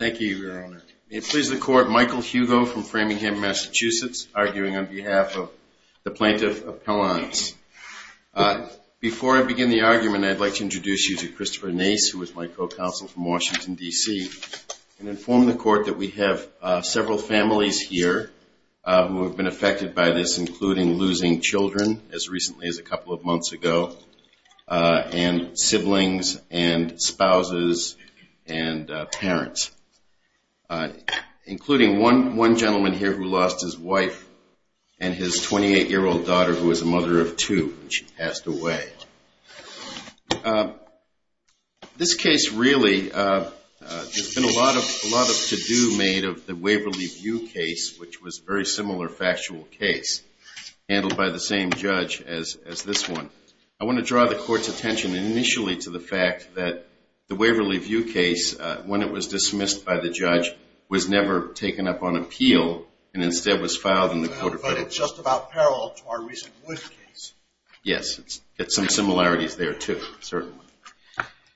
Thank you, Your Honor. May it please the Court, Michael Hugo from Framingham, Massachusetts, arguing on behalf of the Plaintiff of Pellons. Before I begin the argument, I'd like to introduce you to Christopher Nace, who is my co-counsel from Washington, D.C. and inform the Court that we have several families here who have been affected by this, including losing children as recently as a couple of months ago and siblings and spouses and parents, including one gentleman here who lost his wife and his 28-year-old daughter, who is a mother of two. She passed away. This case, really, there's been a lot of to-do made of the Waverly View case, which was a very similar factual case, handled by the same judge as this one. I want to draw the Court's attention initially to the fact that the Waverly View case, when it was dismissed by the judge, was never taken up on appeal and instead was filed in the court of appeals. But it's just about parallel to our recent Wood case. Yes, it's got some similarities there, too, certainly.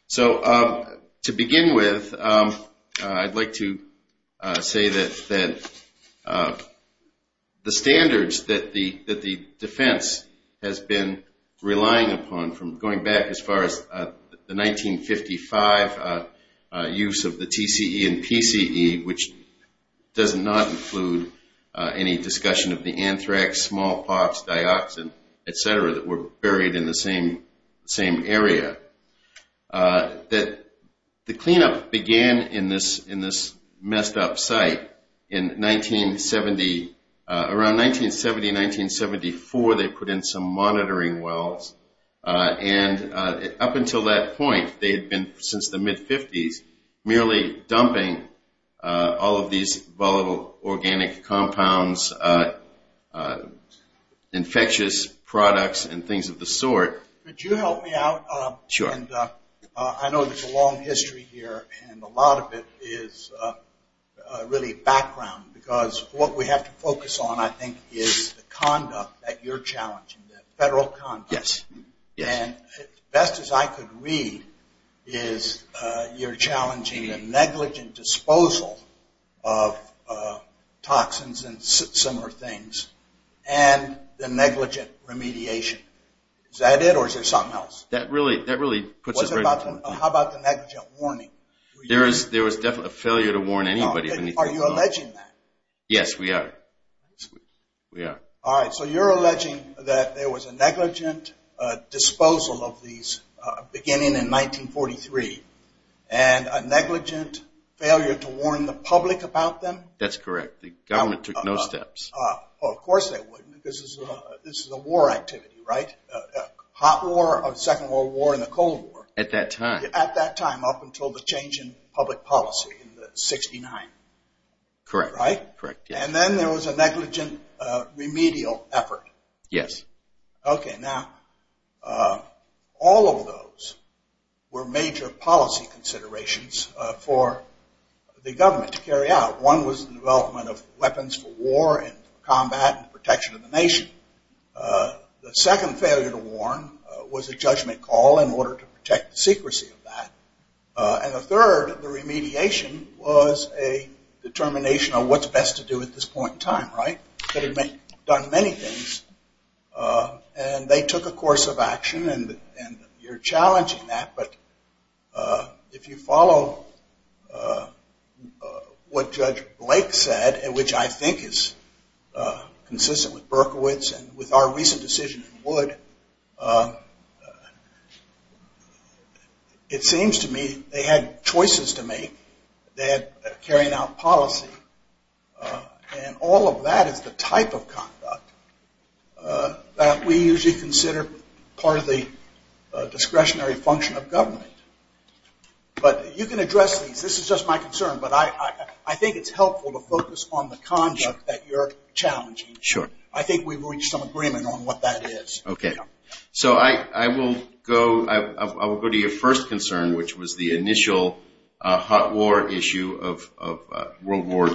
So to begin with, I'd like to say that the standards that the defense has been relying upon from going back as far as the 1955 use of the TCE and PCE, which does not include any discussion of the anthrax, smallpox, dioxin, etc., that were buried in the same area, that the cleanup began in this messed-up site. Around 1970, 1974, they put in some monitoring wells. Up until that point, they had been, since the mid-50s, merely dumping all of these volatile organic compounds, infectious products, and things of the sort. Could you help me out? I know there's a long history here, and a lot of it is really background. Because what we have to focus on, I think, is the conduct that you're challenging, the federal conduct. Yes. And best as I could read is you're challenging a negligent disposal of toxins and similar things, and the negligent remediation. Is that it, or is there something else? That really puts it right in front of you. How about the negligent warning? There was definitely a failure to warn anybody. Are you alleging that? Yes, we are. All right, so you're alleging that there was a negligent disposal of these beginning in 1943, and a negligent failure to warn the public about them? That's correct. The government took no steps. Of course they wouldn't. This is a war activity, right? A hot war, a Second World War, and a cold war. At that time. At that time, up until the change in public policy in 1969. Correct. Right? Correct, yes. And then there was a negligent remedial effort. Yes. Okay, now, all of those were major policy considerations for the government to carry out. One was the development of weapons for war and combat and protection of the nation. The second failure to warn was a judgment call in order to protect the secrecy of that. And the third, the remediation, was a determination of what's best to do at this point in time, right? That had done many things, and they took a course of action, and you're challenging that, but if you follow what Judge Blake said, which I think is consistent with Berkowitz, and with our recent decision in Wood, it seems to me they had choices to make. They had carrying out policy, and all of that is the type of conduct that we usually consider part of the discretionary function of government. But you can address these. This is just my concern, but I think it's helpful to focus on the conduct that you're challenging. Sure. I think we've reached some agreement on what that is. Okay. So I will go to your first concern, which was the initial hot war issue of World War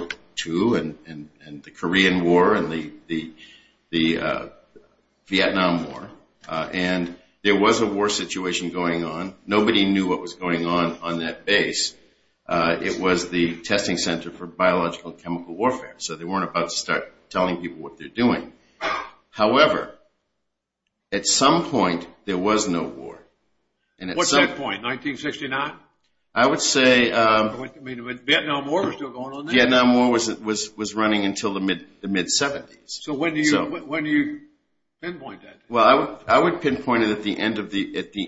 II and the Korean War and the Vietnam War. And there was a war situation going on. Nobody knew what was going on on that base. It was the Testing Center for Biological and Chemical Warfare, so they weren't about to start telling people what they're doing. However, at some point there was no war. What's that point, 1969? I would say Vietnam War was still going on then. It was running until the mid-'70s. So when do you pinpoint that? Well, I would pinpoint it at the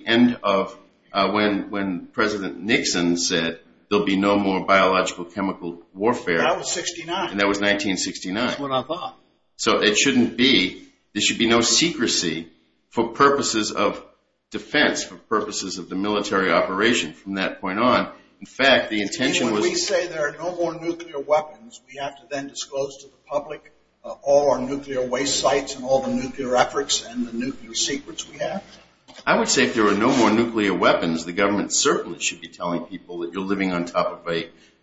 end of when President Nixon said there will be no more biological chemical warfare. That was 1969. That was 1969. That's what I thought. So it shouldn't be. There should be no secrecy for purposes of defense, for purposes of the military operation from that point on. When we say there are no more nuclear weapons, we have to then disclose to the public all our nuclear waste sites and all the nuclear efforts and the nuclear secrets we have? I would say if there were no more nuclear weapons, the government certainly should be telling people that you're living on top of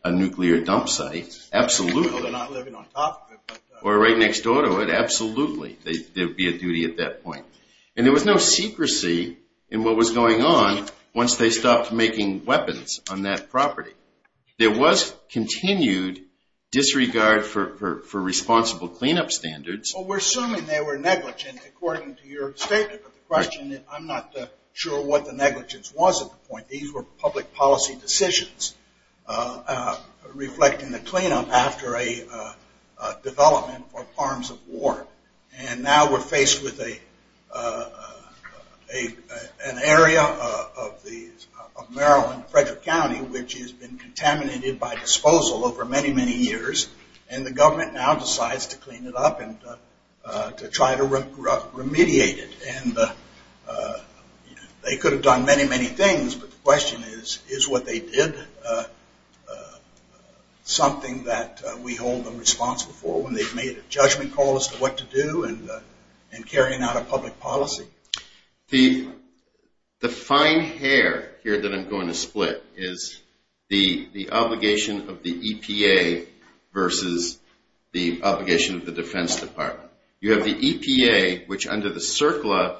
a nuclear dump site. Absolutely. Well, they're not living on top of it. Or right next door to it. Absolutely. There would be a duty at that point. And there was no secrecy in what was going on once they stopped making weapons on that property. There was continued disregard for responsible cleanup standards. Well, we're assuming they were negligent according to your statement, but the question is I'm not sure what the negligence was at the point. These were public policy decisions reflecting the cleanup after a development or arms of war. And now we're faced with an area of Maryland, Frederick County, which has been contaminated by disposal over many, many years. And the government now decides to clean it up and to try to remediate it. And they could have done many, many things, but the question is, is what they did something that we hold them responsible for when they've made a judgment call as to what to do in carrying out a public policy? The fine hair here that I'm going to split is the obligation of the EPA versus the obligation of the Defense Department. You have the EPA, which under the CERCLA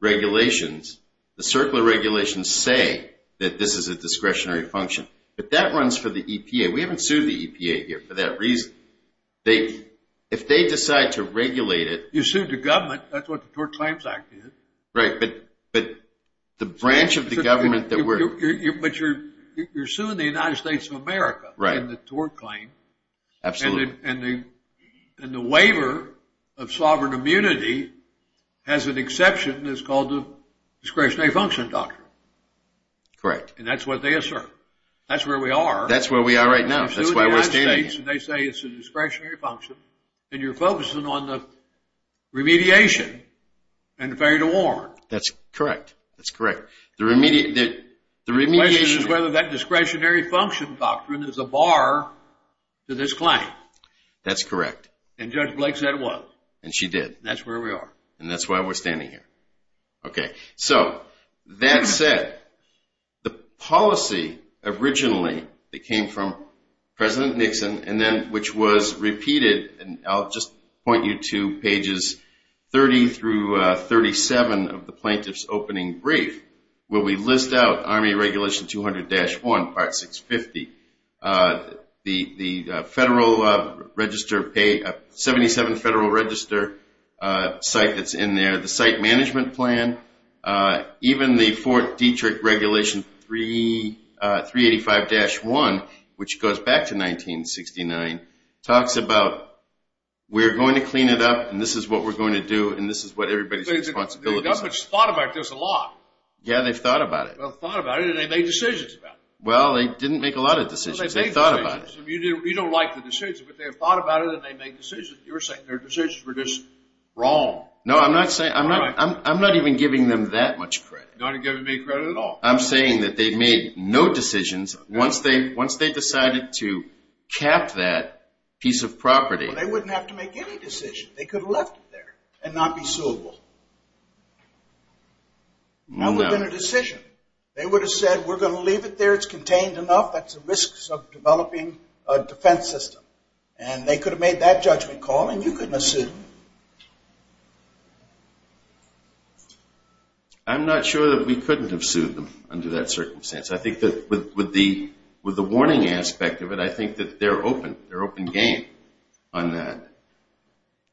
regulations, the CERCLA regulations say that this is a discretionary function. But that runs for the EPA. We haven't sued the EPA here for that reason. If they decide to regulate it… You sued the government. That's what the Tort Claims Act did. Right, but the branch of the government that we're… But you're suing the United States of America in the tort claim. Absolutely. And the waiver of sovereign immunity has an exception that's called the discretionary function doctrine. Correct. And that's what they assert. That's where we are. That's where we are right now. That's why we're standing here. They say it's a discretionary function, and you're focusing on the remediation and failure to warrant. That's correct. That's correct. The question is whether that discretionary function doctrine is a bar to this claim. That's correct. And Judge Blake said it was. And she did. That's where we are. And that's why we're standing here. Okay. So, that said, the policy originally that came from President Nixon, and then which was repeated, and I'll just point you to pages 30 through 37 of the plaintiff's opening brief, where we list out Army Regulation 200-1, Part 650, the Federal Register… 77 Federal Register site that's in there. The site management plan. Even the Fort Detrick Regulation 385-1, which goes back to 1969, talks about we're going to clean it up, and this is what we're going to do, and this is what everybody's responsibility is. The government's thought about this a lot. Yeah, they've thought about it. They've thought about it, and they've made decisions about it. Well, they didn't make a lot of decisions. They've made decisions. They've thought about it. You don't like the decisions, but they've thought about it, and they've made decisions. You're saying their decisions were just wrong. No, I'm not even giving them that much credit. You're not giving me credit at all. I'm saying that they made no decisions once they decided to cap that piece of property. They wouldn't have to make any decision. They could have left it there and not be suable. That would have been a decision. They would have said, we're going to leave it there. It's contained enough. That's the risks of developing a defense system, and they could have made that judgment call, and you couldn't have sued them. I'm not sure that we couldn't have sued them under that circumstance. I think that with the warning aspect of it, I think that they're open. They're open game on that.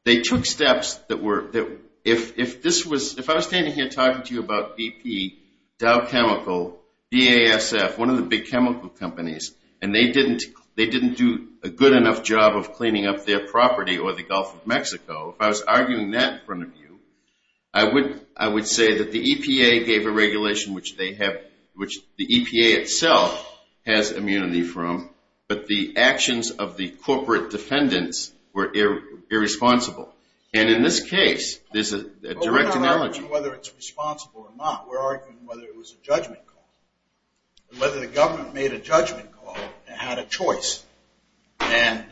They took steps that were – if this was – if I was standing here talking to you about BP, Dow Chemical, BASF, one of the big chemical companies, and they didn't do a good enough job of cleaning up their property or the Gulf of Mexico, if I was arguing that in front of you, I would say that the EPA gave a regulation, which they have – which the EPA itself has immunity from, but the actions of the corporate defendants were irresponsible. And in this case, there's a direct analogy. We're not arguing whether it's responsible or not. We're arguing whether it was a judgment call, whether the government made a judgment call and had a choice. And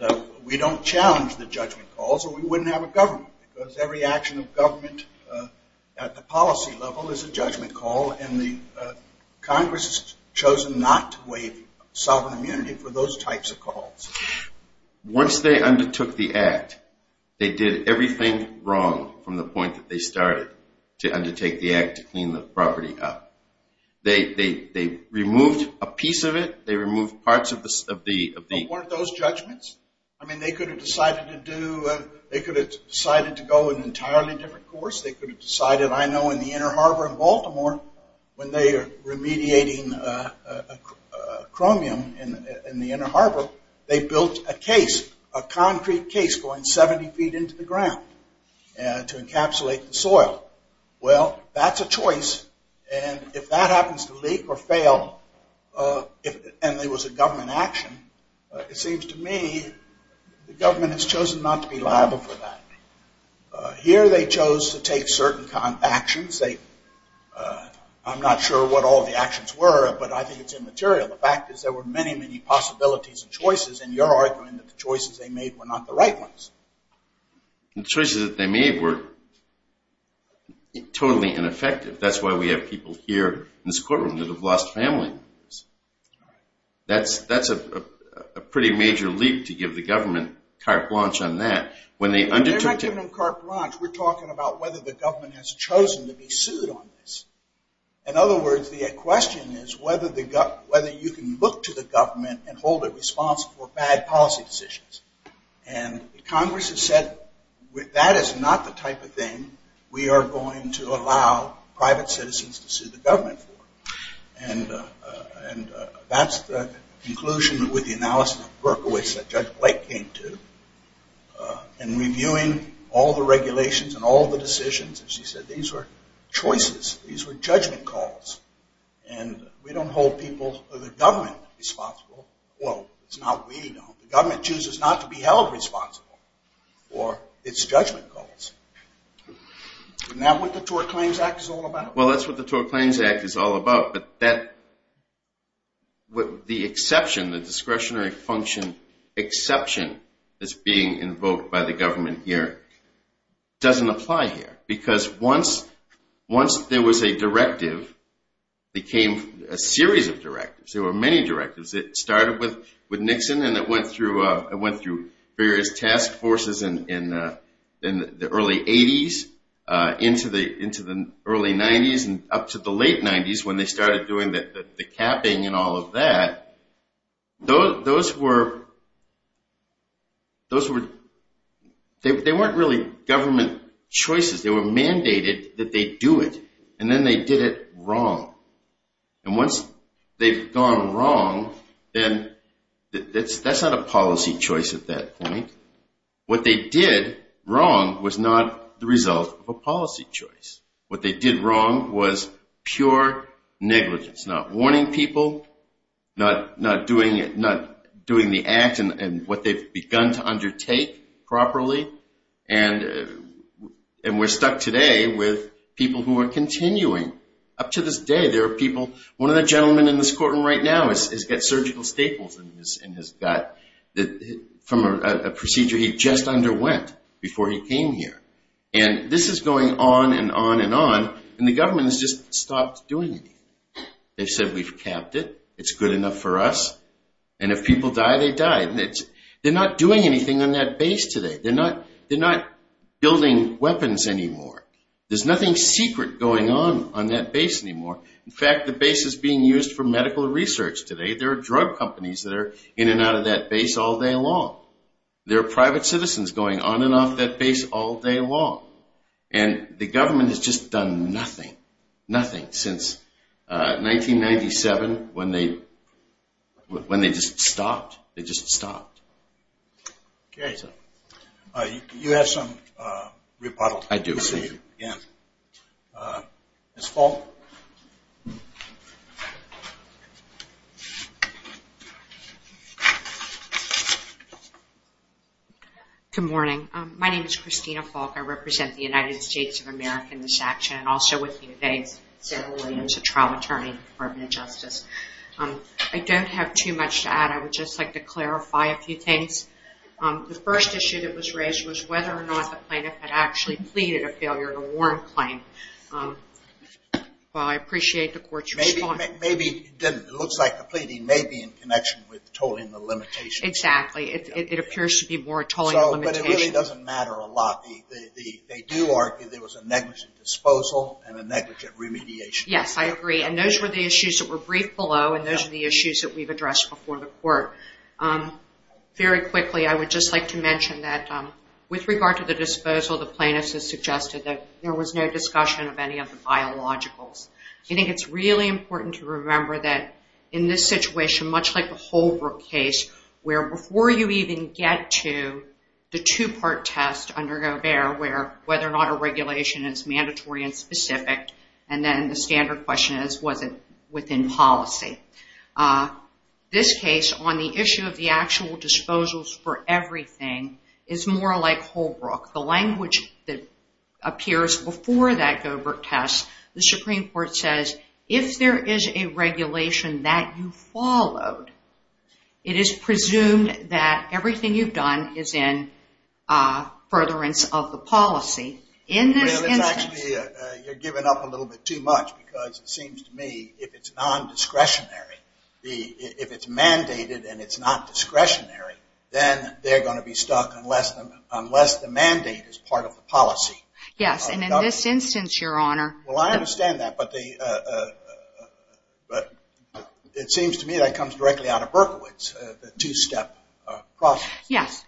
we don't challenge the judgment calls, or we wouldn't have a government because every action of government at the policy level is a judgment call, and the Congress has chosen not to waive sovereign immunity for those types of calls. Once they undertook the act, they did everything wrong from the point that they started to undertake the act to clean the property up. They removed a piece of it. They removed parts of the – But weren't those judgments? I mean, they could have decided to do – they could have decided to go an entirely different course. Or when they are remediating chromium in the Inner Harbor, they built a case, a concrete case going 70 feet into the ground to encapsulate the soil. Well, that's a choice, and if that happens to leak or fail and there was a government action, it seems to me the government has chosen not to be liable for that. Here they chose to take certain actions. I'm not sure what all the actions were, but I think it's immaterial. The fact is there were many, many possibilities and choices, and you're arguing that the choices they made were not the right ones. The choices that they made were totally ineffective. That's why we have people here in this courtroom that have lost family members. That's a pretty major leap to give the government carte blanche on that. When they undertook to – When you're talking about carte blanche, we're talking about whether the government has chosen to be sued on this. In other words, the question is whether you can look to the government and hold it responsible for bad policy decisions. And Congress has said that is not the type of thing we are going to allow private citizens to sue the government for. And that's the conclusion with the analysis of Berkowitz that Judge Blake came to. In reviewing all the regulations and all the decisions, she said these were choices, these were judgment calls. And we don't hold people or the government responsible. Well, it's not we who don't. The government chooses not to be held responsible for its judgment calls. Isn't that what the Tort Claims Act is all about? Well, that's what the Tort Claims Act is all about. But that – the exception, the discretionary function exception that's being invoked by the government here doesn't apply here. Because once there was a directive, there came a series of directives. There were many directives. It started with Nixon and it went through various task forces in the early 80s into the early 90s and up to the late 90s when they started doing the capping and all of that. Those were – they weren't really government choices. They were mandated that they do it. And then they did it wrong. And once they've gone wrong, then that's not a policy choice at that point. What they did wrong was not the result of a policy choice. What they did wrong was pure negligence, not warning people, not doing the act and what they've begun to undertake properly. And we're stuck today with people who are continuing. Up to this day, there are people – one of the gentlemen in this courtroom right now has got surgical staples in his gut from a procedure he just underwent before he came here. And this is going on and on and on, and the government has just stopped doing anything. They've said we've capped it, it's good enough for us, and if people die, they die. They're not doing anything on that base today. They're not building weapons anymore. There's nothing secret going on on that base anymore. In fact, the base is being used for medical research today. There are drug companies that are in and out of that base all day long. There are private citizens going on and off that base all day long. And the government has just done nothing, nothing since 1997 when they just stopped. They just stopped. Okay. You have some rebuttal. I do. Thank you. Ms. Falk. Good morning. My name is Christina Falk. I represent the United States of America in this action, and also with me today is Sarah Williams, a trial attorney in the Department of Justice. I don't have too much to add. I would just like to clarify a few things. The first issue that was raised was whether or not the plaintiff had actually pleaded a failure in a warrant claim. Well, I appreciate the court's response. Maybe it didn't. It looks like the pleading may be in connection with tolling the limitations. Exactly. It appears to be more a tolling limitation. But it really doesn't matter a lot. They do argue there was a negligent disposal and a negligent remediation. Yes, I agree. And those were the issues that were briefed below, and those are the issues that we've addressed before the court. Very quickly, I would just like to mention that with regard to the disposal, the plaintiff has suggested that there was no discussion of any of the biologicals. I think it's really important to remember that in this situation, much like the Holbrook case where before you even get to the two-part test under Gobert where whether or not a regulation is mandatory and specific, and then the standard question is, was it within policy? This case, on the issue of the actual disposals for everything, is more like Holbrook. The language that appears before that Gobert test, the Supreme Court says, if there is a regulation that you followed, it is presumed that everything you've done is in furtherance of the policy. You're giving up a little bit too much because it seems to me if it's non-discretionary, if it's mandated and it's not discretionary, then they're going to be stuck unless the mandate is part of the policy. Yes, and in this instance, Your Honor. Well, I understand that, but it seems to me that comes directly out of Berkowitz, the two-step process. Yes,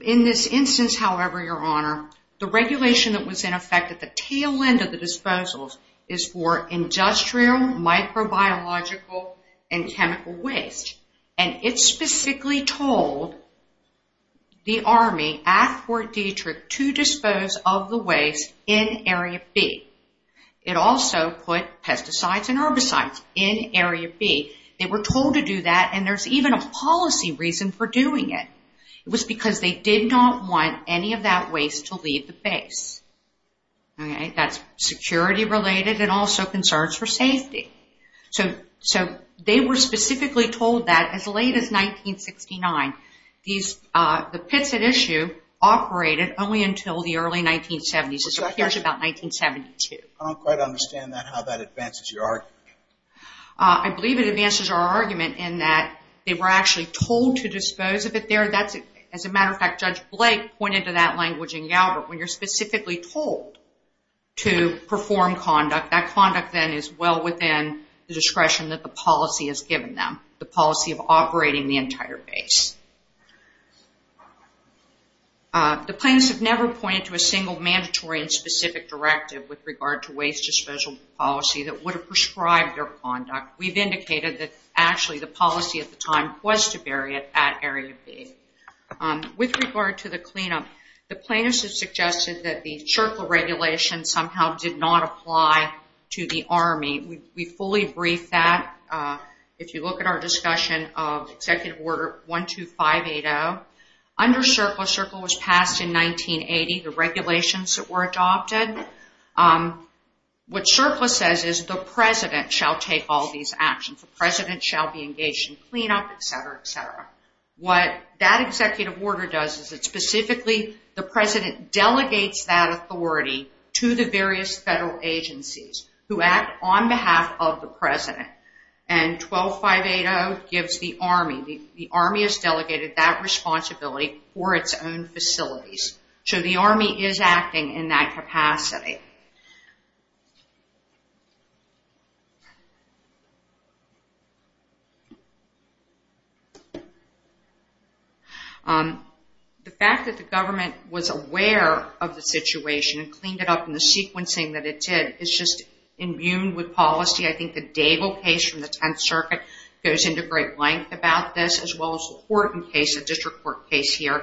in this instance, however, Your Honor, the regulation that was in effect at the tail end of the disposals is for industrial, microbiological, and chemical waste, and it specifically told the Army at Fort Detrick to dispose of the waste in Area B. It also put pesticides and herbicides in Area B. They were told to do that, and there's even a policy reason for doing it. It was because they did not want any of that waste to leave the base. That's security-related and also concerns for safety. So they were specifically told that as late as 1969. The pits at issue operated only until the early 1970s. This appears about 1972. I don't quite understand how that advances your argument. I believe it advances our argument in that they were actually told to dispose of it there. As a matter of fact, Judge Blake pointed to that language in Galbert. When you're specifically told to perform conduct, that conduct then is well within the discretion that the policy has given them, the policy of operating the entire base. The plaintiffs have never pointed to a single mandatory and specific directive with regard to waste disposal policy that would have prescribed their conduct. We've indicated that actually the policy at the time was to bury it at Area B. With regard to the cleanup, the plaintiffs have suggested that the CIRCLA regulation somehow did not apply to the Army. We fully briefed that. If you look at our discussion of Executive Order 12580, under CIRCLA, CIRCLA was passed in 1980. The regulations that were adopted, what CIRCLA says is the President shall take all these actions. The President shall be engaged in cleanup, et cetera, et cetera. What that Executive Order does is it specifically, the President delegates that authority to the various federal agencies who act on behalf of the President. And 12580 gives the Army, the Army has delegated that responsibility for its own facilities. So the Army is acting in that capacity. The fact that the government was aware of the situation and cleaned it up in the sequencing that it did, is just immune with policy. I think the Daigle case from the 10th Circuit goes into great length about this, as well as the Horton case, a district court case here.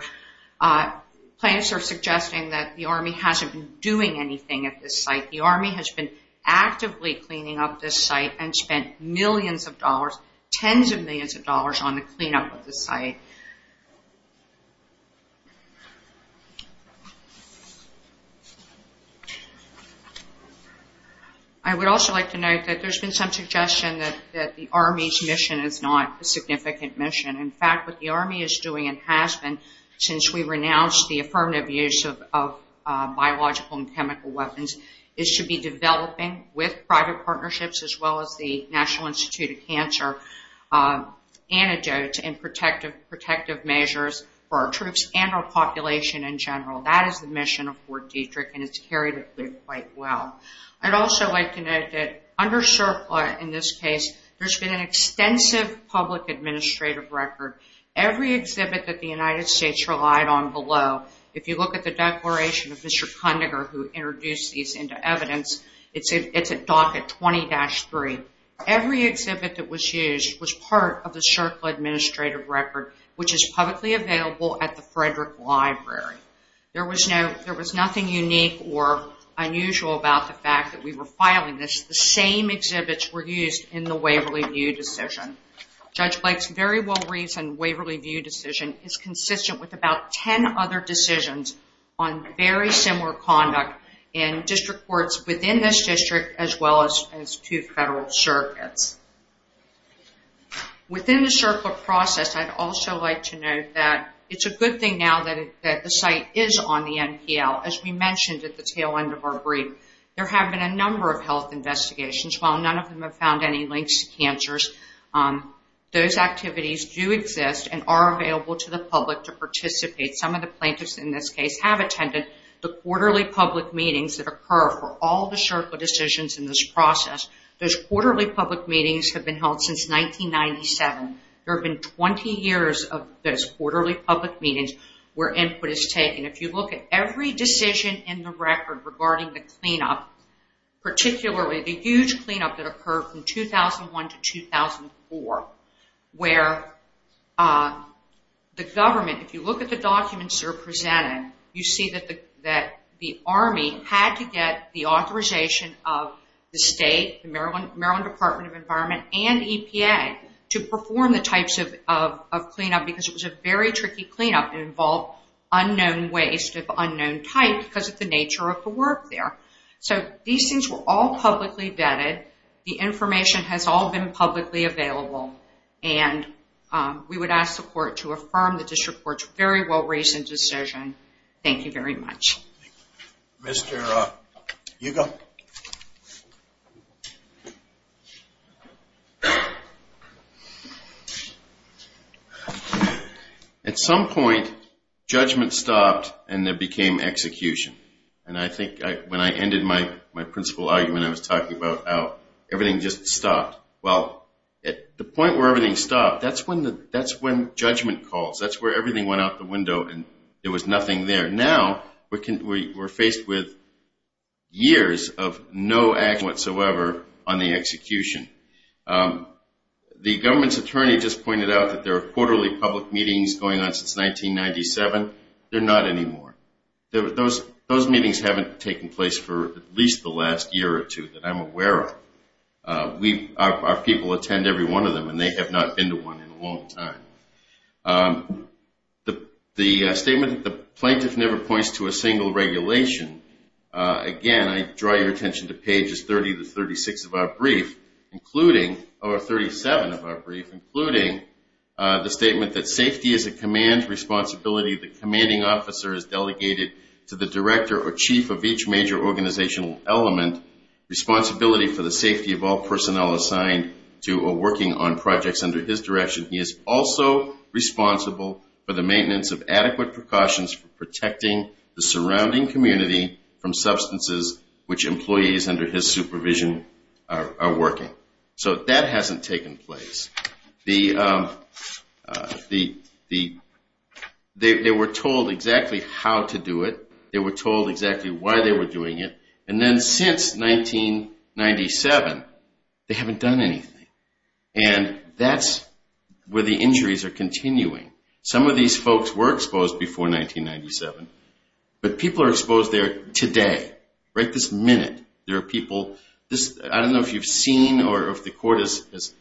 Plaintiffs are suggesting that the Army hasn't been doing anything at this site. The Army has been actively cleaning up this site and spent millions of dollars, tens of millions of dollars, on the cleanup of this site. I would also like to note that there's been some suggestion that the Army's mission is not a significant mission. In fact, what the Army is doing, and has been, since we renounced the affirmative use of biological and chemical weapons, is to be developing, with private partnerships, as well as the National Institute of Cancer, antidotes and protective measures for our troops and our population in general. That is the mission of Fort Detrick, and it's carried quite well. I'd also like to note that under CERCLA, in this case, there's been an extensive public administrative record. Every exhibit that the United States relied on below, if you look at the declaration of Mr. Kondiger, who introduced these into evidence, it's at docket 20-3. Every exhibit that was used was part of the CERCLA administrative record, which is publicly available at the Frederick Library. There was nothing unique or unusual about the fact that we were filing this. The same exhibits were used in the Waverly View decision. Judge Blake's very well-reasoned Waverly View decision is consistent with about 10 other decisions on very similar conduct in district courts within this district, as well as to federal circuits. Within the CERCLA process, I'd also like to note that it's a good thing now that the site is on the NPL. As we mentioned at the tail end of our brief, there have been a number of health investigations. While none of them have found any links to cancers, those activities do exist and are available to the public to participate. Some of the plaintiffs in this case have attended the quarterly public meetings that occur for all the CERCLA decisions in this process. Those quarterly public meetings have been held since 1997. There have been 20 years of those quarterly public meetings where input is taken. If you look at every decision in the record regarding the cleanup, particularly the huge cleanup that occurred from 2001 to 2004, where the government, if you look at the documents that are presented, you see that the Army had to get the authorization of the state, the Maryland Department of Environment, and EPA, to perform the types of cleanup because it was a very tricky cleanup and involved unknown waste of unknown type because of the nature of the work there. So these things were all publicly vetted. The information has all been publicly available, and we would ask the court to affirm the district court's very well-reasoned decision. Thank you very much. Mr. Yugo. Thank you. At some point, judgment stopped and there became execution. And I think when I ended my principal argument, I was talking about how everything just stopped. Well, at the point where everything stopped, that's when judgment calls. That's where everything went out the window and there was nothing there. Now we're faced with years of no action whatsoever on the execution. The government's attorney just pointed out that there are quarterly public meetings going on since 1997. They're not anymore. Those meetings haven't taken place for at least the last year or two that I'm aware of. Our people attend every one of them, and they have not been to one in a long time. The statement that the plaintiff never points to a single regulation, again, I draw your attention to pages 30 to 36 of our brief, or 37 of our brief, including the statement that safety is a command responsibility. The commanding officer is delegated to the director or chief of each major organizational element, responsibility for the safety of all personnel assigned to or working on projects under his direction. He is also responsible for the maintenance of adequate precautions for protecting the surrounding community from substances which employees under his supervision are working. So that hasn't taken place. They were told exactly how to do it. They were told exactly why they were doing it. And then since 1997, they haven't done anything. And that's where the injuries are continuing. Some of these folks were exposed before 1997, but people are exposed there today. Right this minute, there are people. I don't know if you've seen or if the court has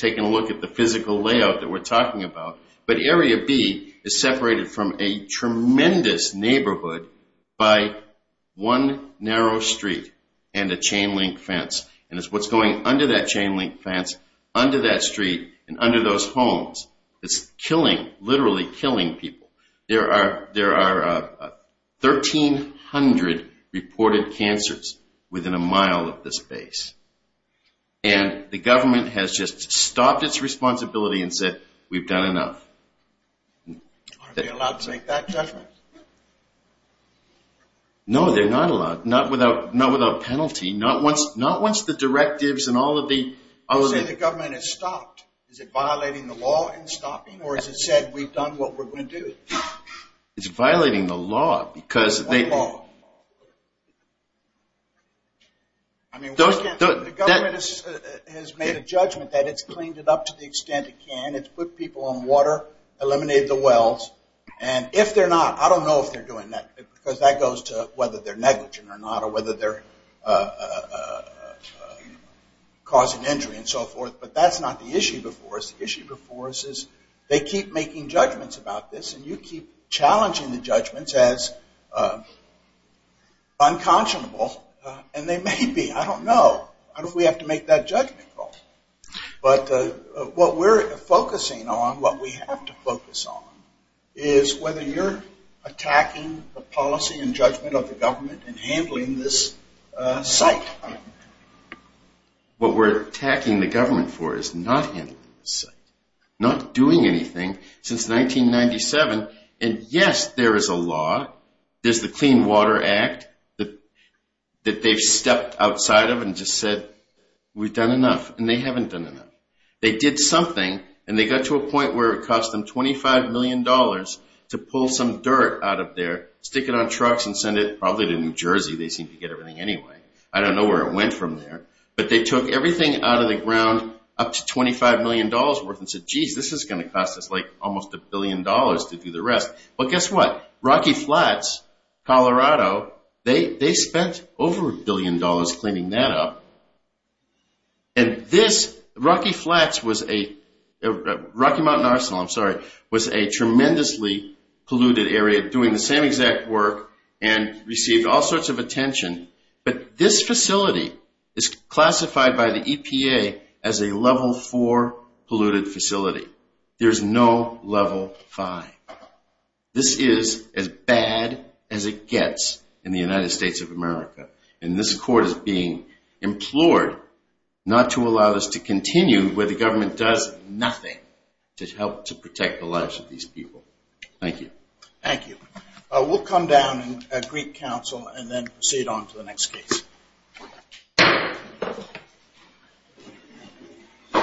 taken a look at the physical layout that we're talking about, but Area B is separated from a tremendous neighborhood by one narrow street and a chain-link fence. And it's what's going under that chain-link fence, under that street, and under those homes. It's killing, literally killing people. There are 1,300 reported cancers within a mile of this base. And the government has just stopped its responsibility and said, we've done enough. Are they allowed to make that judgment? No, they're not allowed, not without penalty. Not once the directives and all of the- You're saying the government has stopped. Is it violating the law in stopping, or has it said, we've done what we're going to do? It's violating the law because they- What law? The government has made a judgment that it's cleaned it up to the extent it can. It's put people on water, eliminated the wells. And if they're not, I don't know if they're doing that because that goes to whether they're negligent or not causing injury and so forth. But that's not the issue before us. The issue before us is they keep making judgments about this, and you keep challenging the judgments as unconscionable. And they may be. I don't know. I don't know if we have to make that judgment call. But what we're focusing on, what we have to focus on, is whether you're attacking the policy and judgment of the government in handling this site. What we're attacking the government for is not handling the site, not doing anything since 1997. And, yes, there is a law. There's the Clean Water Act that they've stepped outside of and just said, we've done enough. And they haven't done enough. They did something, and they got to a point where it cost them $25 million to pull some dirt out of there, stick it on trucks, and send it probably to New Jersey. They seemed to get everything anyway. I don't know where it went from there. But they took everything out of the ground up to $25 million worth and said, geez, this is going to cost us like almost a billion dollars to do the rest. But guess what? Rocky Flats, Colorado, they spent over a billion dollars cleaning that up. And this, Rocky Flats was a, Rocky Mountain Arsenal, I'm sorry, was a tremendously polluted area doing the same exact work and received all sorts of attention. But this facility is classified by the EPA as a Level 4 polluted facility. There's no Level 5. This is as bad as it gets in the United States of America. And this court is being implored not to allow this to continue where the government does nothing to help to protect the lives of these people. Thank you. Thank you. We'll come down and greet counsel and then proceed on to the next case.